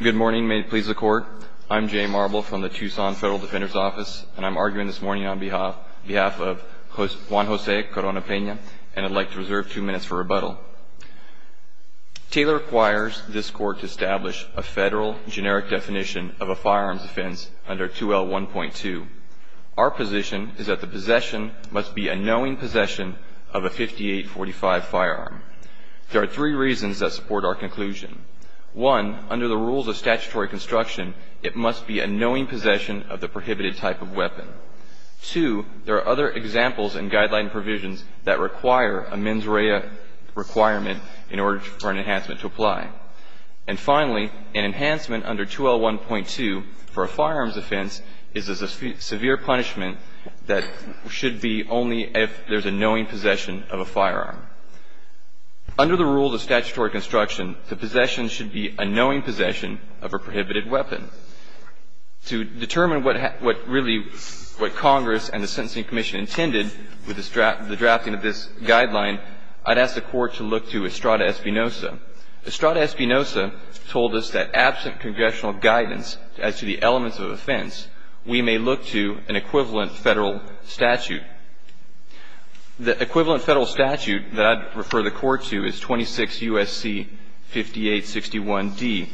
Good morning, may it please the court. I'm Jay Marble from the Tucson Federal Defender's Office, and I'm arguing this morning on behalf of Juan Jose Corona-Pena, and I'd like to reserve two minutes for rebuttal. Taylor requires this court to establish a federal generic definition of a firearms offense under 2L1.2. Our position is that the possession must be a knowing possession of a 58-45 firearm. There are three reasons that support our conclusion. One, under the rules of statutory construction, it must be a knowing possession of the prohibited type of weapon. Two, there are other examples and guideline provisions that require a mens rea requirement in order for an enhancement to apply. And finally, an enhancement under 2L1.2 for a firearms offense is a severe punishment that should be only if there's a knowing possession of a firearm. Under the rules of statutory construction, the possession should be a knowing possession of a prohibited weapon. To determine what really what Congress and the Sentencing Commission intended with the drafting of this guideline, I'd ask the court to look to Estrada-Espinosa. Estrada-Espinosa told us that absent congressional guidance as to the elements of offense, we may look to an equivalent federal statute. The equivalent federal statute that I'd refer the court to is 26 U.S.C. 5861d.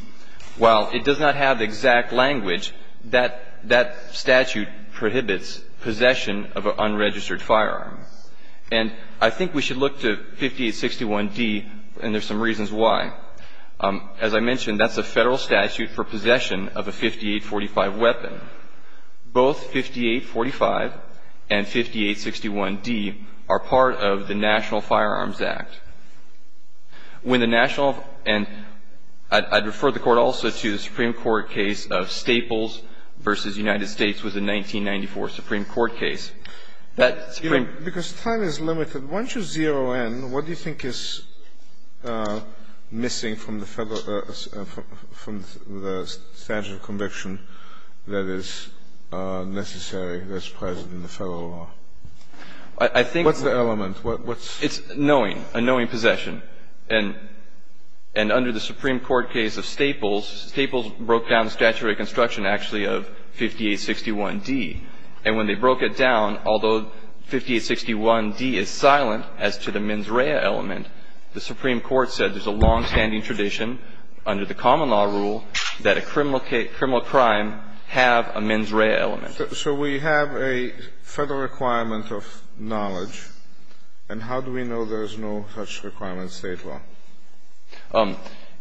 While it does not have the exact language, that statute prohibits possession of an unregistered firearm. And I think we should look to 5861d, and there's some reasons why. As I mentioned, that's a federal statute for possession of a 58-45 weapon. Both 58-45 and 5861d are part of the National Firearms Act. When the national, and I'd refer the court also to the Supreme Court case of Staples versus United States was a 1994 Supreme Court case. You know, because time is limited, once you zero in, what do you think is missing from the federal, from the statute of conviction that is necessary that's present in the federal law? I think what's the element? It's knowing, a knowing possession. And under the Supreme Court case of Staples, Staples broke down the statute of reconstruction, actually, of 5861d. And when they broke it down, although 5861d is silent as to the mens rea element, the Supreme Court said there's a longstanding tradition under the common law rule that a criminal crime have a mens rea element. So we have a federal requirement of knowledge, and how do we know there's no such requirement in state law?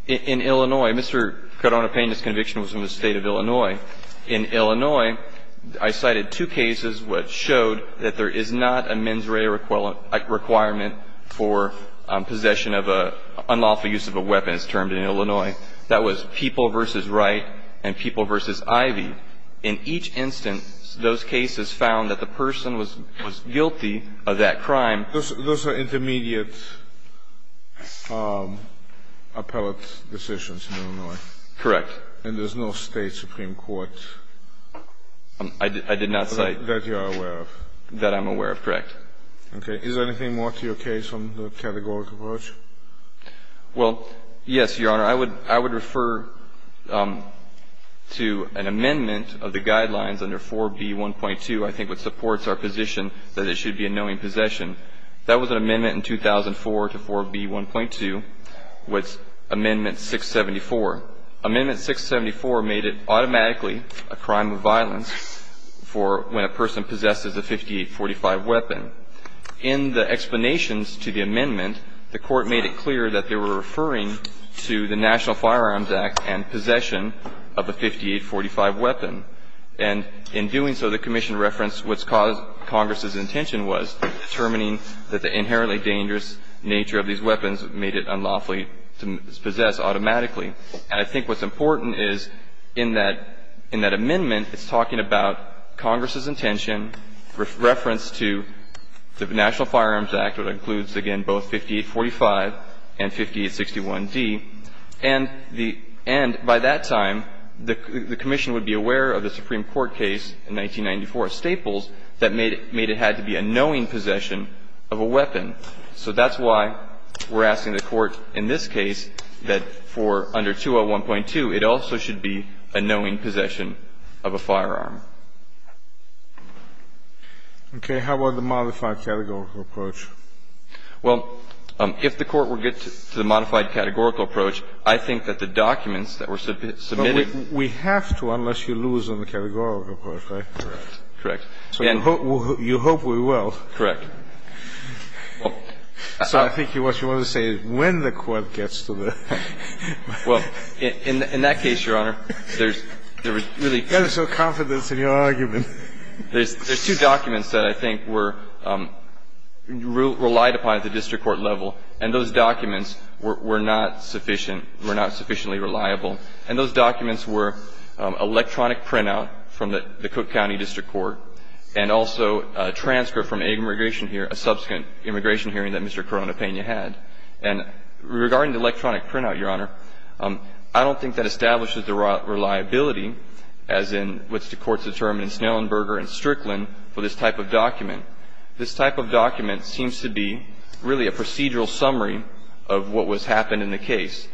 In Illinois, Mr. Cardona-Pena's conviction was in the state of Illinois. In Illinois, I cited two cases which showed that there is not a mens rea requirement for possession of an unlawful use of a weapon as termed in Illinois. That was People v. Wright and People v. Ivey. In each instance, those cases found that the person was guilty of that crime. Those are intermediate appellate decisions in Illinois. Correct. And there's no State supreme court? I did not cite. That you are aware of. That I'm aware of. Correct. Okay. Is there anything more to your case on the categorical approach? Well, yes, Your Honor. I would refer to an amendment of the guidelines under 4B1.2, I think, which supports our position that it should be a knowing possession. That was an amendment in 2004 to 4B1.2 with amendment 674. Amendment 674 made it automatically a crime of violence for when a person possesses a 5845 weapon. In the explanations to the amendment, the Court made it clear that they were referring to the National Firearms Act and possession of a 5845 weapon. And in doing so, the commission referenced what's caused Congress's intention was determining that the inherently dangerous nature of these weapons made it unlawfully to possess automatically. And I think what's important is in that amendment, it's talking about Congress's intention, reference to the National Firearms Act, which includes, again, both 5845 and 5861d. And by that time, the commission would be aware of the Supreme Court case in 1994, Staples, that made it had to be a knowing possession of a weapon. So that's why we're asking the Court in this case that for under 201.2, it also should be a knowing possession of a firearm. Okay. How about the modified categorical approach? Well, if the Court were to get to the modified categorical approach, I think that the documents that were submitted. But we have to unless you lose on the categorical approach, right? Correct. So you hope we will. Correct. So I think what you want to say is when the Court gets to the. Well, in that case, Your Honor, there's really. There's no confidence in your argument. There's two documents that I think were relied upon at the district court level, and those documents were not sufficient, were not sufficiently reliable. And those documents were electronic printout from the Cook County District Court and also a transfer from immigration here, a subsequent immigration hearing that Mr. Coronapena had. And regarding the electronic printout, Your Honor, I don't think that establishes the reliability as in which the courts determined in Snellenberger and Strickland for this type of document. This type of document seems to be really a procedural summary of what was happened in the case.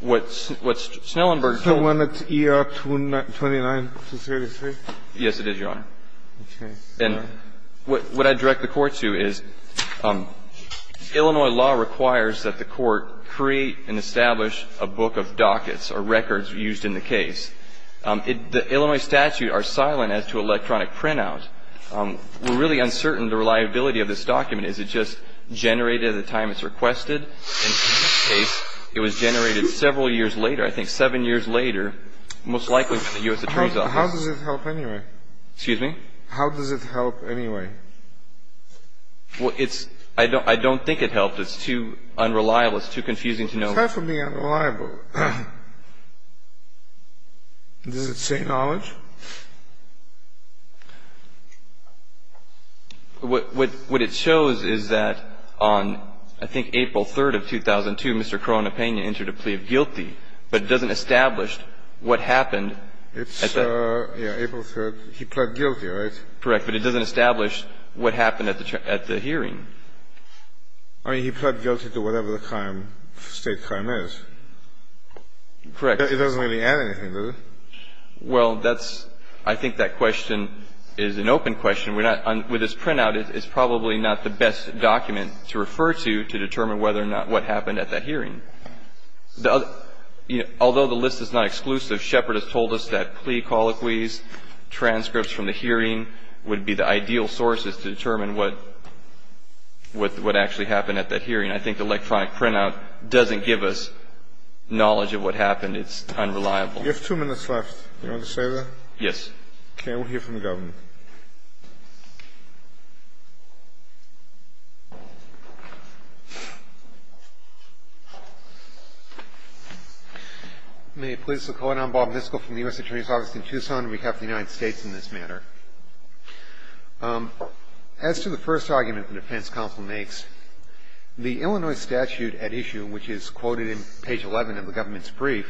What Snellenberger. So when it's ER 29233. Yes, it is, Your Honor. Okay. And what I direct the Court to is Illinois law requires that the Court create and establish a book of dockets or records used in the case. The Illinois statute are silent as to electronic printout. We're really uncertain the reliability of this document. Is it just generated at the time it's requested? In this case, it was generated several years later, I think seven years later, most likely from the U.S. Attorney's office. How does it help anyway? Excuse me? How does it help anyway? Well, it's – I don't think it helped. It's too unreliable. It's too confusing to know. It's perfectly unreliable. Does it say knowledge? What it shows is that on, I think, April 3rd of 2002, Mr. Coronapena entered a plea of guilty, but it doesn't establish what happened. It's, yeah, April 3rd. He pled guilty, right? Correct. But it doesn't establish what happened at the hearing. I mean, he pled guilty to whatever the crime, state crime is. Correct. It doesn't really add anything, does it? Well, that's – I think that question is an open question. We're not – with this printout, it's probably not the best document to refer to to determine whether or not what happened at that hearing. Although the list is not exclusive, Shepard has told us that plea colloquies, transcripts from the hearing would be the ideal sources to determine what actually happened at that hearing. I think the electronic printout doesn't give us knowledge of what happened. It's unreliable. You have two minutes left. Do you want to say that? Yes. Okay. We'll hear from the government. May it please the Court. I'm Bob Niskell from the U.S. Attorney's Office in Tucson. And we have the United States in this matter. As to the first argument the defense counsel makes, the Illinois statute at issue, which is quoted in page 11 of the government's brief,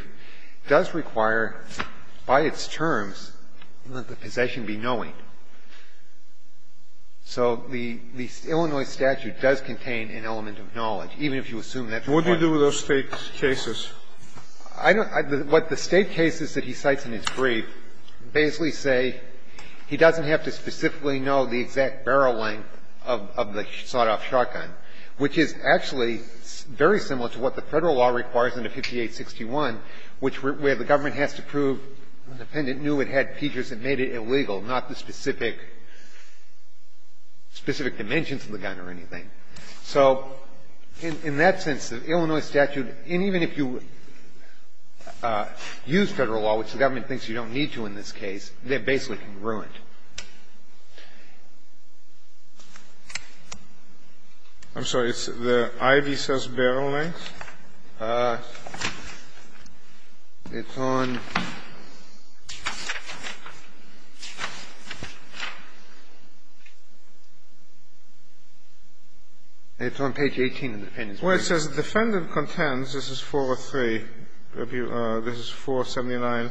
does require, by its terms, let the possession be knowing. So the Illinois statute does contain an element of knowledge, even if you assume that's the point. What do you do with those State cases? I don't – what the State cases that he cites in his brief basically say he doesn't have to specifically know the exact barrel length of the sawed-off shotgun, which is actually very similar to what the Federal law requires under 5861, which where the government has to prove the defendant knew it had features that made it illegal, not the specific dimensions of the gun or anything. So in that sense, the Illinois statute, and even if you use Federal law, which the government thinks you don't need to in this case, they're basically ruined. I'm sorry. It's the Ivy says barrel length. It's on page 18 of the defendant's brief. Well, it says the defendant contends, this is 403. This is 479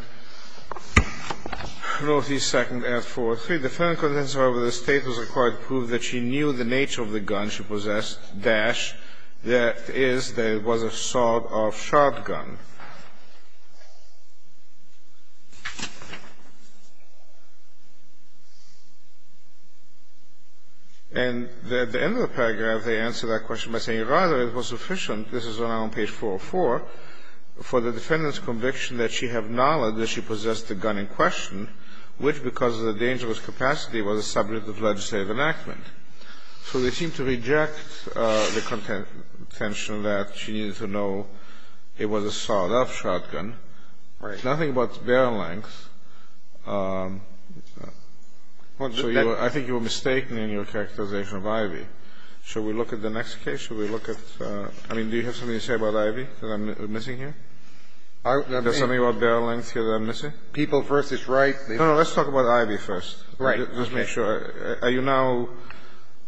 North East 2nd at 403. The defendant contends, however, the State was required to prove that she knew the gun was a sawed-off shotgun. And at the end of the paragraph, they answer that question by saying, rather, it was sufficient, this is now on page 404, for the defendant's conviction that she have knowledge that she possessed the gun in question, which because of the dangerous capacity was a subject of legislative enactment. So they seem to reject the contention that she needed to know it was a sawed-off shotgun. Right. Nothing about barrel length. I think you were mistaken in your characterization of Ivy. Should we look at the next case? Should we look at the next case? I mean, do you have something to say about Ivy that I'm missing here? There's something about barrel length here that I'm missing? People versus right. No, no, let's talk about Ivy first. Right. Let's make sure. Are you now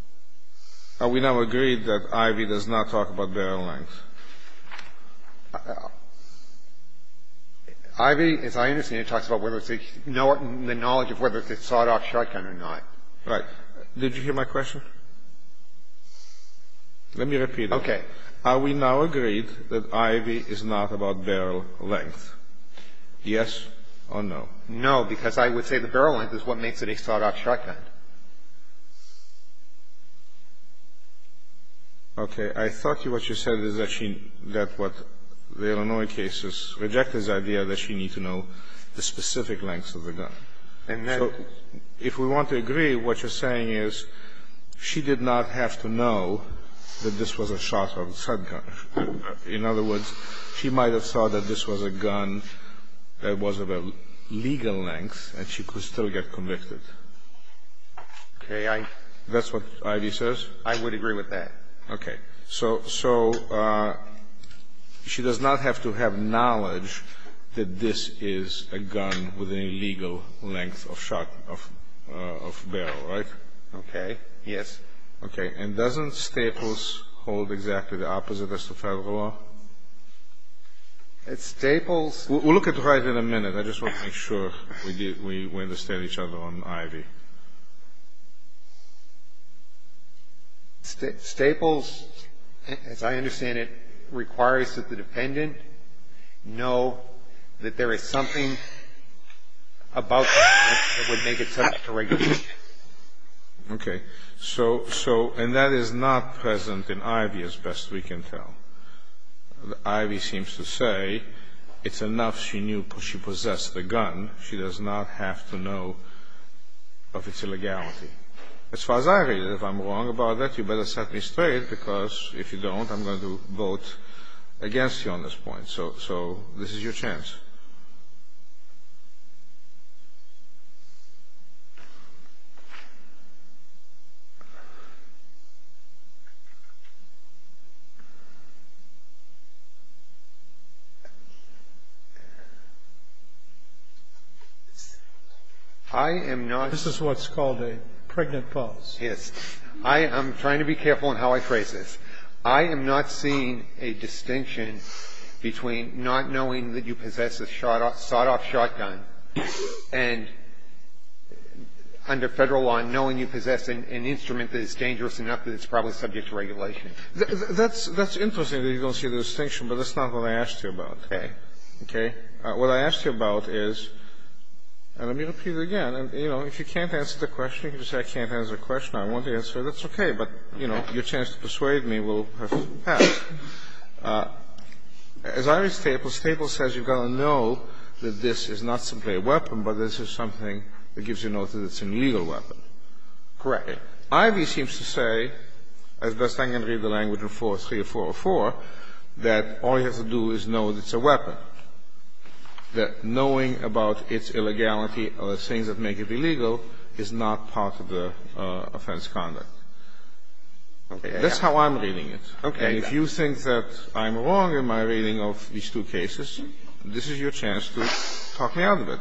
– are we now agreed that Ivy does not talk about barrel length? Ivy, as I understand it, talks about whether it's – the knowledge of whether it's a sawed-off shotgun or not. Right. Did you hear my question? Let me repeat it. Okay. Are we now agreed that Ivy is not about barrel length? Yes or no? No, because I would say the barrel length is what makes it a sawed-off shotgun. Okay. I thought what you said is that she – that what the Illinois cases reject this idea that she needs to know the specific lengths of the gun. And then – So if we want to agree, what you're saying is she did not have to know that this was a sawed-off shotgun. In other words, she might have thought that this was a gun that was of a legal length and she could still get convicted. Okay. I – That's what Ivy says? I would agree with that. Okay. So – so she does not have to have knowledge that this is a gun with a legal length of shot – of – of barrel, right? Okay. Yes. Okay. And doesn't Staples hold exactly the opposite as to Federal law? Staples – We'll look at it in a minute. I just want to make sure we – we understand each other on Ivy. Staples, as I understand it, requires that the dependent know that there is something about the gun that would make it subject to regulation. Okay. So – so – and that is not present in Ivy, as best we can tell. Ivy seems to say it's enough she knew – she possessed the gun. She does not have to know of its illegality. As far as I read it, if I'm wrong about that, you better set me straight, because if you don't, I'm going to vote against you on this point. So – so this is your chance. I am not – This is what's called a pregnant pause. Yes. I am trying to be careful in how I phrase this. I am not seeing a distinction between not knowing that you possess a shot – a sawed-off shotgun and, under Federal law, knowing you possess an instrument that is dangerous enough that it's probably subject to regulation. That's – that's interesting that you don't see the distinction, but that's not what I asked you about. Okay. Okay. What I asked you about is – and let me repeat it again. You know, if you can't answer the question, you can just say I can't answer the question, I won't answer it, that's okay. But, you know, your chance to persuade me will have passed. As I read Staples, Staples says you've got to know that this is not simply a weapon, but this is something that gives you notice that it's an illegal weapon. Correct me. Ivey seems to say, as best I can read the language in 403 or 404, that all you have to do is know that it's a weapon, that knowing about its illegality or the things that make it illegal is not part of the offense conduct. Okay. That's how I'm reading it. Okay. And if you think that I'm wrong in my reading of these two cases, this is your chance to talk me out of it.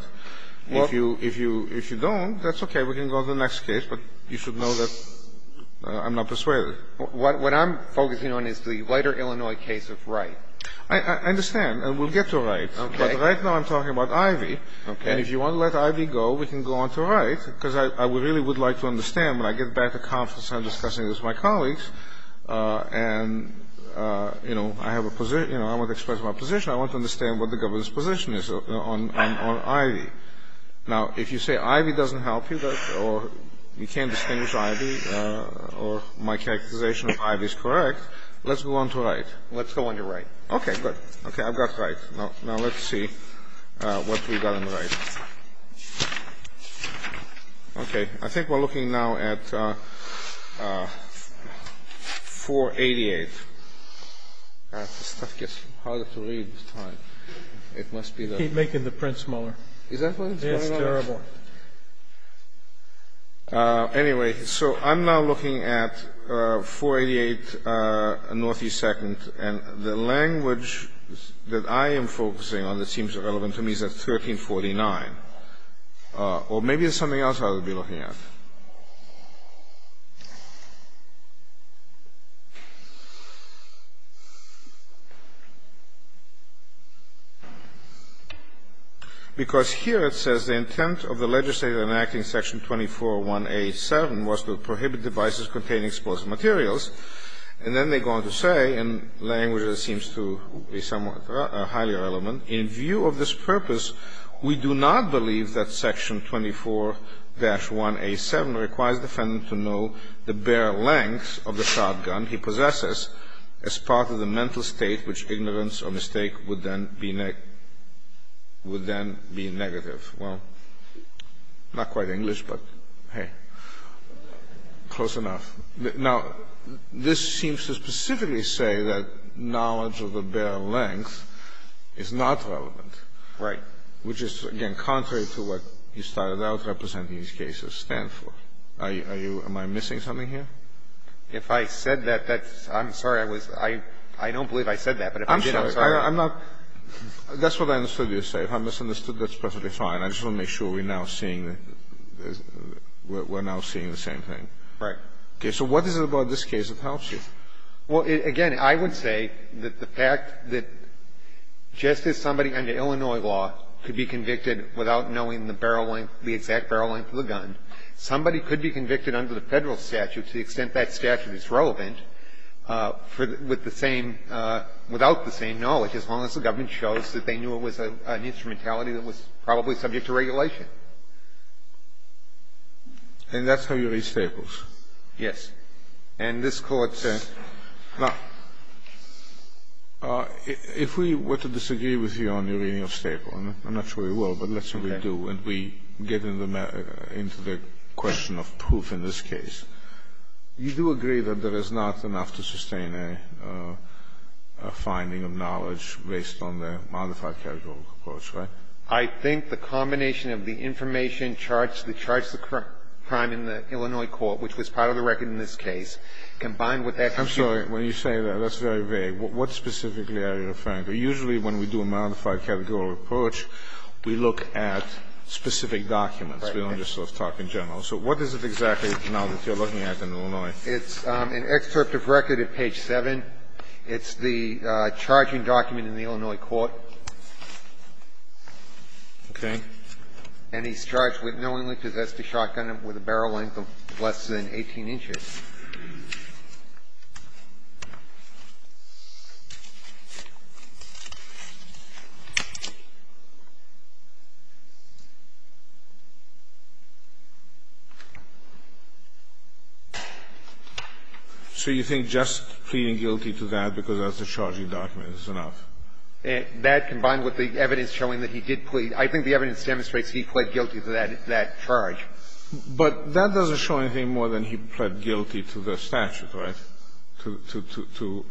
If you – if you don't, that's okay. We can go to the next case, but you should know that I'm not persuaded. What I'm focusing on is the lighter Illinois case of Wright. I understand. And we'll get to Wright. Okay. But right now I'm talking about Ivey. Okay. And if you want to let Ivey go, we can go on to Wright, because I really would like to have a discussion with my colleagues, and, you know, I have a – you know, I want to express my position. I want to understand what the government's position is on Ivey. Now, if you say Ivey doesn't help you, or you can't distinguish Ivey, or my characterization of Ivey is correct, let's go on to Wright. Let's go on to Wright. Okay. Good. Okay. I've got Wright. Now let's see what we've got in Wright. Okay. I think we're looking now at 488. This stuff gets harder to read with time. It must be the – Keep making the print smaller. Is that what's going on? It's terrible. Anyway, so I'm now looking at 488 Northeast 2nd, and the language that I am focusing on that seems relevant to me is at 1349. Or maybe there's something else I would be looking at. Because here it says the intent of the legislature enacting Section 24187 was to prohibit devices containing explosive materials, and then they go on to say, in language that seems to be relevant, in view of this purpose, we do not believe that Section 24-1A7 requires the defendant to know the bare length of the shotgun he possesses as part of the mental state which ignorance or mistake would then be negative. Well, not quite English, but hey, close enough. Now, this seems to specifically say that knowledge of the bare length is not relevant. Right. Which is, again, contrary to what you started out representing these cases stand for. Are you – am I missing something here? If I said that, that's – I'm sorry, I was – I don't believe I said that, but if I did, I'm sorry. I'm not – that's what I understood you to say. If I misunderstood, that's perfectly fine. I just want to make sure we're now seeing – we're now seeing the same thing. Right. Okay. So what is it about this case that helps you? Well, again, I would say that the fact that just as somebody under Illinois law could be convicted without knowing the barrel length, the exact barrel length of the gun, somebody could be convicted under the Federal statute to the extent that statute is relevant with the same – without the same knowledge, as long as the government shows that they knew it was an instrumentality that was probably subject to regulation. Okay. And that's how you read Staples? Yes. And this court says – now, if we were to disagree with you on your reading of Staple, and I'm not sure we will, but let's say we do, and we get into the question of proof in this case, you do agree that there is not enough to sustain a finding of knowledge based on the modified categorical approach, right? I think the combination of the information charged – that charged the crime in the Illinois court, which was part of the record in this case, combined with that – I'm sorry. When you say that, that's very vague. What specifically are you referring to? Usually when we do a modified categorical approach, we look at specific documents. Right. We don't just sort of talk in general. So what is it exactly now that you're looking at in Illinois? It's an excerpt of record at page 7. It's the charging document in the Illinois court. Okay. And he's charged with knowingly possessed a shotgun with a barrel length of less than 18 inches. So you think just pleading guilty to that because that's a charging document is enough? That, combined with the evidence showing that he did plead – I think the evidence demonstrates he pled guilty to that charge. But that doesn't show anything more than he pled guilty to the statute, right? To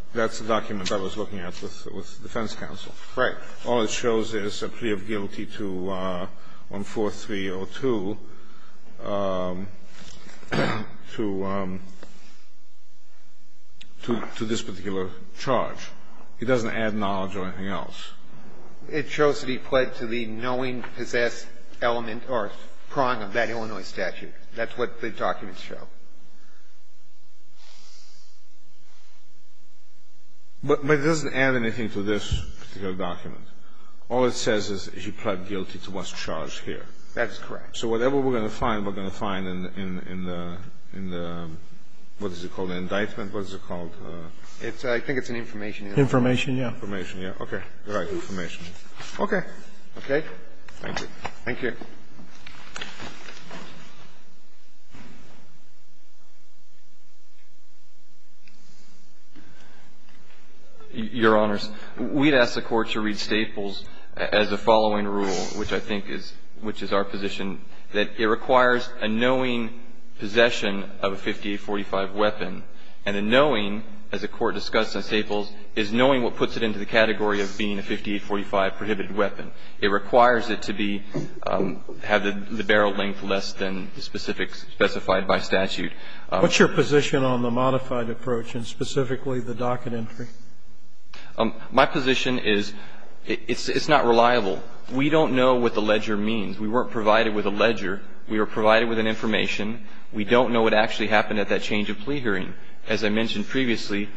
– that's a document I was looking at with defense counsel. Right. All it shows is a plea of guilty to 14302 to this particular charge. It doesn't add knowledge or anything else. It shows that he pled to the knowingly possessed element or prong of that Illinois statute. That's what the documents show. But it doesn't add anything to this particular document. All it says is he pled guilty to what's charged here. That's correct. So whatever we're going to find, we're going to find in the – what is it called, an indictment? What is it called? It's – I think it's an information indictment. Information, yeah. Information, yeah. Okay. All right. Information. Okay. Okay? Thank you. Thank you. Your Honors, we'd ask the Court to read Staples as the following rule, which I think is – which is our position, that it requires a knowing possession of a 5845 weapon and a knowing, as the Court discussed in Staples, is knowing what puts it into the category of being a 5845 prohibited weapon. It requires it to be – have the barrel length less than the specifics specified by statute. What's your position on the modified approach and specifically the docket entry? My position is it's not reliable. We don't know what the ledger means. We weren't provided with a ledger. We were provided with an information. We don't know what actually happened at that change of plea hearing. As I mentioned previously,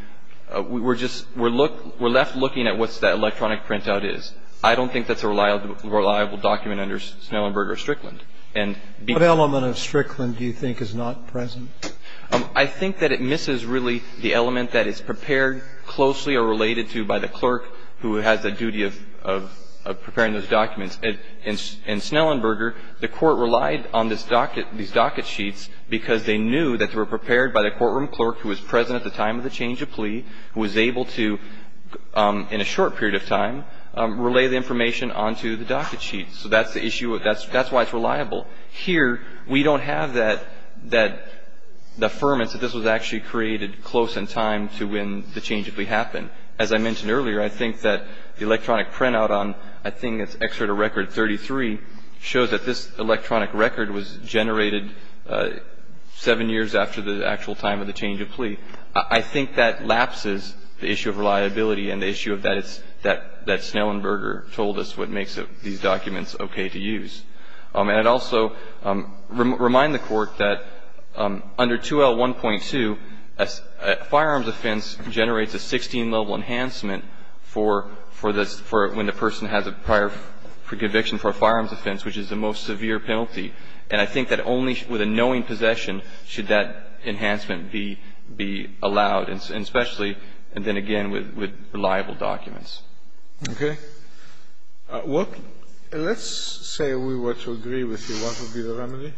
we're just – we're left looking at what that electronic printout is. I don't think that's a reliable document under Snellenberger or Strickland. What element of Strickland do you think is not present? I think that it misses, really, the element that is prepared closely or related to by the clerk who has the duty of preparing those documents. In Snellenberger, the Court relied on this docket – these docket sheets because they knew that they were prepared by the courtroom clerk who was present at the time of the change of plea, who was able to, in a short period of time, relay the information onto the docket sheets. So that's the issue. That's why it's reliable. Here, we don't have that – the affirmance that this was actually created close in time to when the change of plea happened. As I mentioned earlier, I think that the electronic printout on – I think it's an excerpt of Record 33 – shows that this electronic record was generated seven years after the actual time of the change of plea. I think that lapses the issue of reliability and the issue of that it's – that Snellenberger told us what makes these documents okay to use. And it also – remind the Court that under 2L1.2, a firearms offense generates a 16-level enhancement for – when the person has a prior conviction for a firearms offense, which is the most severe penalty. And I think that only with a knowing possession should that enhancement be allowed, and especially – and then again with reliable documents. Okay. Let's say we were to agree with you. What would be the remedy?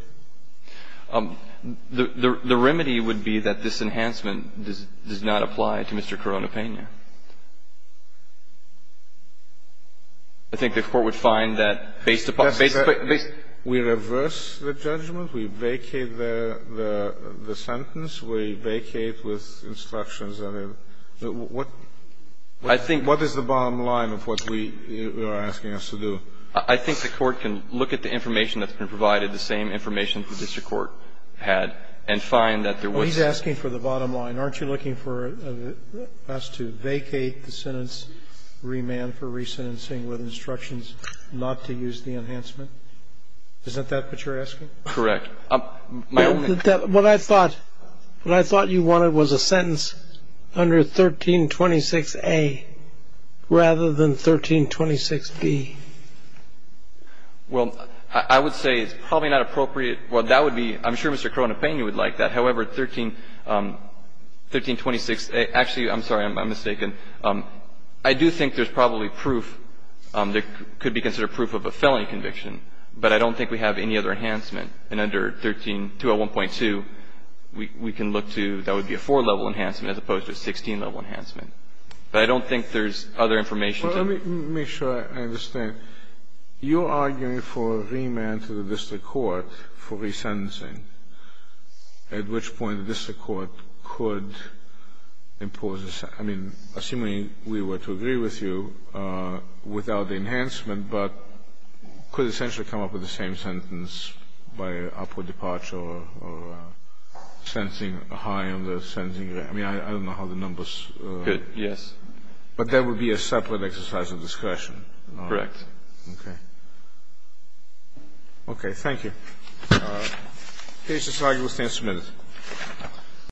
The remedy would be that this enhancement does not apply to Mr. Coronapena. I think the Court would find that based upon – We reverse the judgment. We vacate the sentence. We vacate with instructions. What is the bottom line of what we are asking us to do? I think the Court can look at the information that's been provided, the same information the district court had, and find that there was – Well, he's asking for the bottom line. Aren't you looking for us to vacate the sentence, remand for re-sentencing with instructions not to use the enhancement? Isn't that what you're asking? Correct. My only – What I thought you wanted was a sentence under 1326A rather than 1326B. Well, I would say it's probably not appropriate. Well, that would be – I'm sure Mr. Coronapena would like that. However, 1326 – actually, I'm sorry. I'm mistaken. I do think there's probably proof that could be considered proof of a felony conviction, but I don't think we have any other enhancement. And under 13 – 201.2, we can look to – that would be a four-level enhancement as opposed to a 16-level enhancement. But I don't think there's other information. Well, let me make sure I understand. You're arguing for remand to the district court for re-sentencing, at which point the district court could impose a – I mean, assuming we were to agree with you, without the enhancement, but could essentially come up with the same sentence by upward departure or a high on the sentencing – I mean, I don't know how the numbers – Yes. But that would be a separate exercise of discretion. Correct. Okay. Okay. Thank you. This is how you will stand submitted.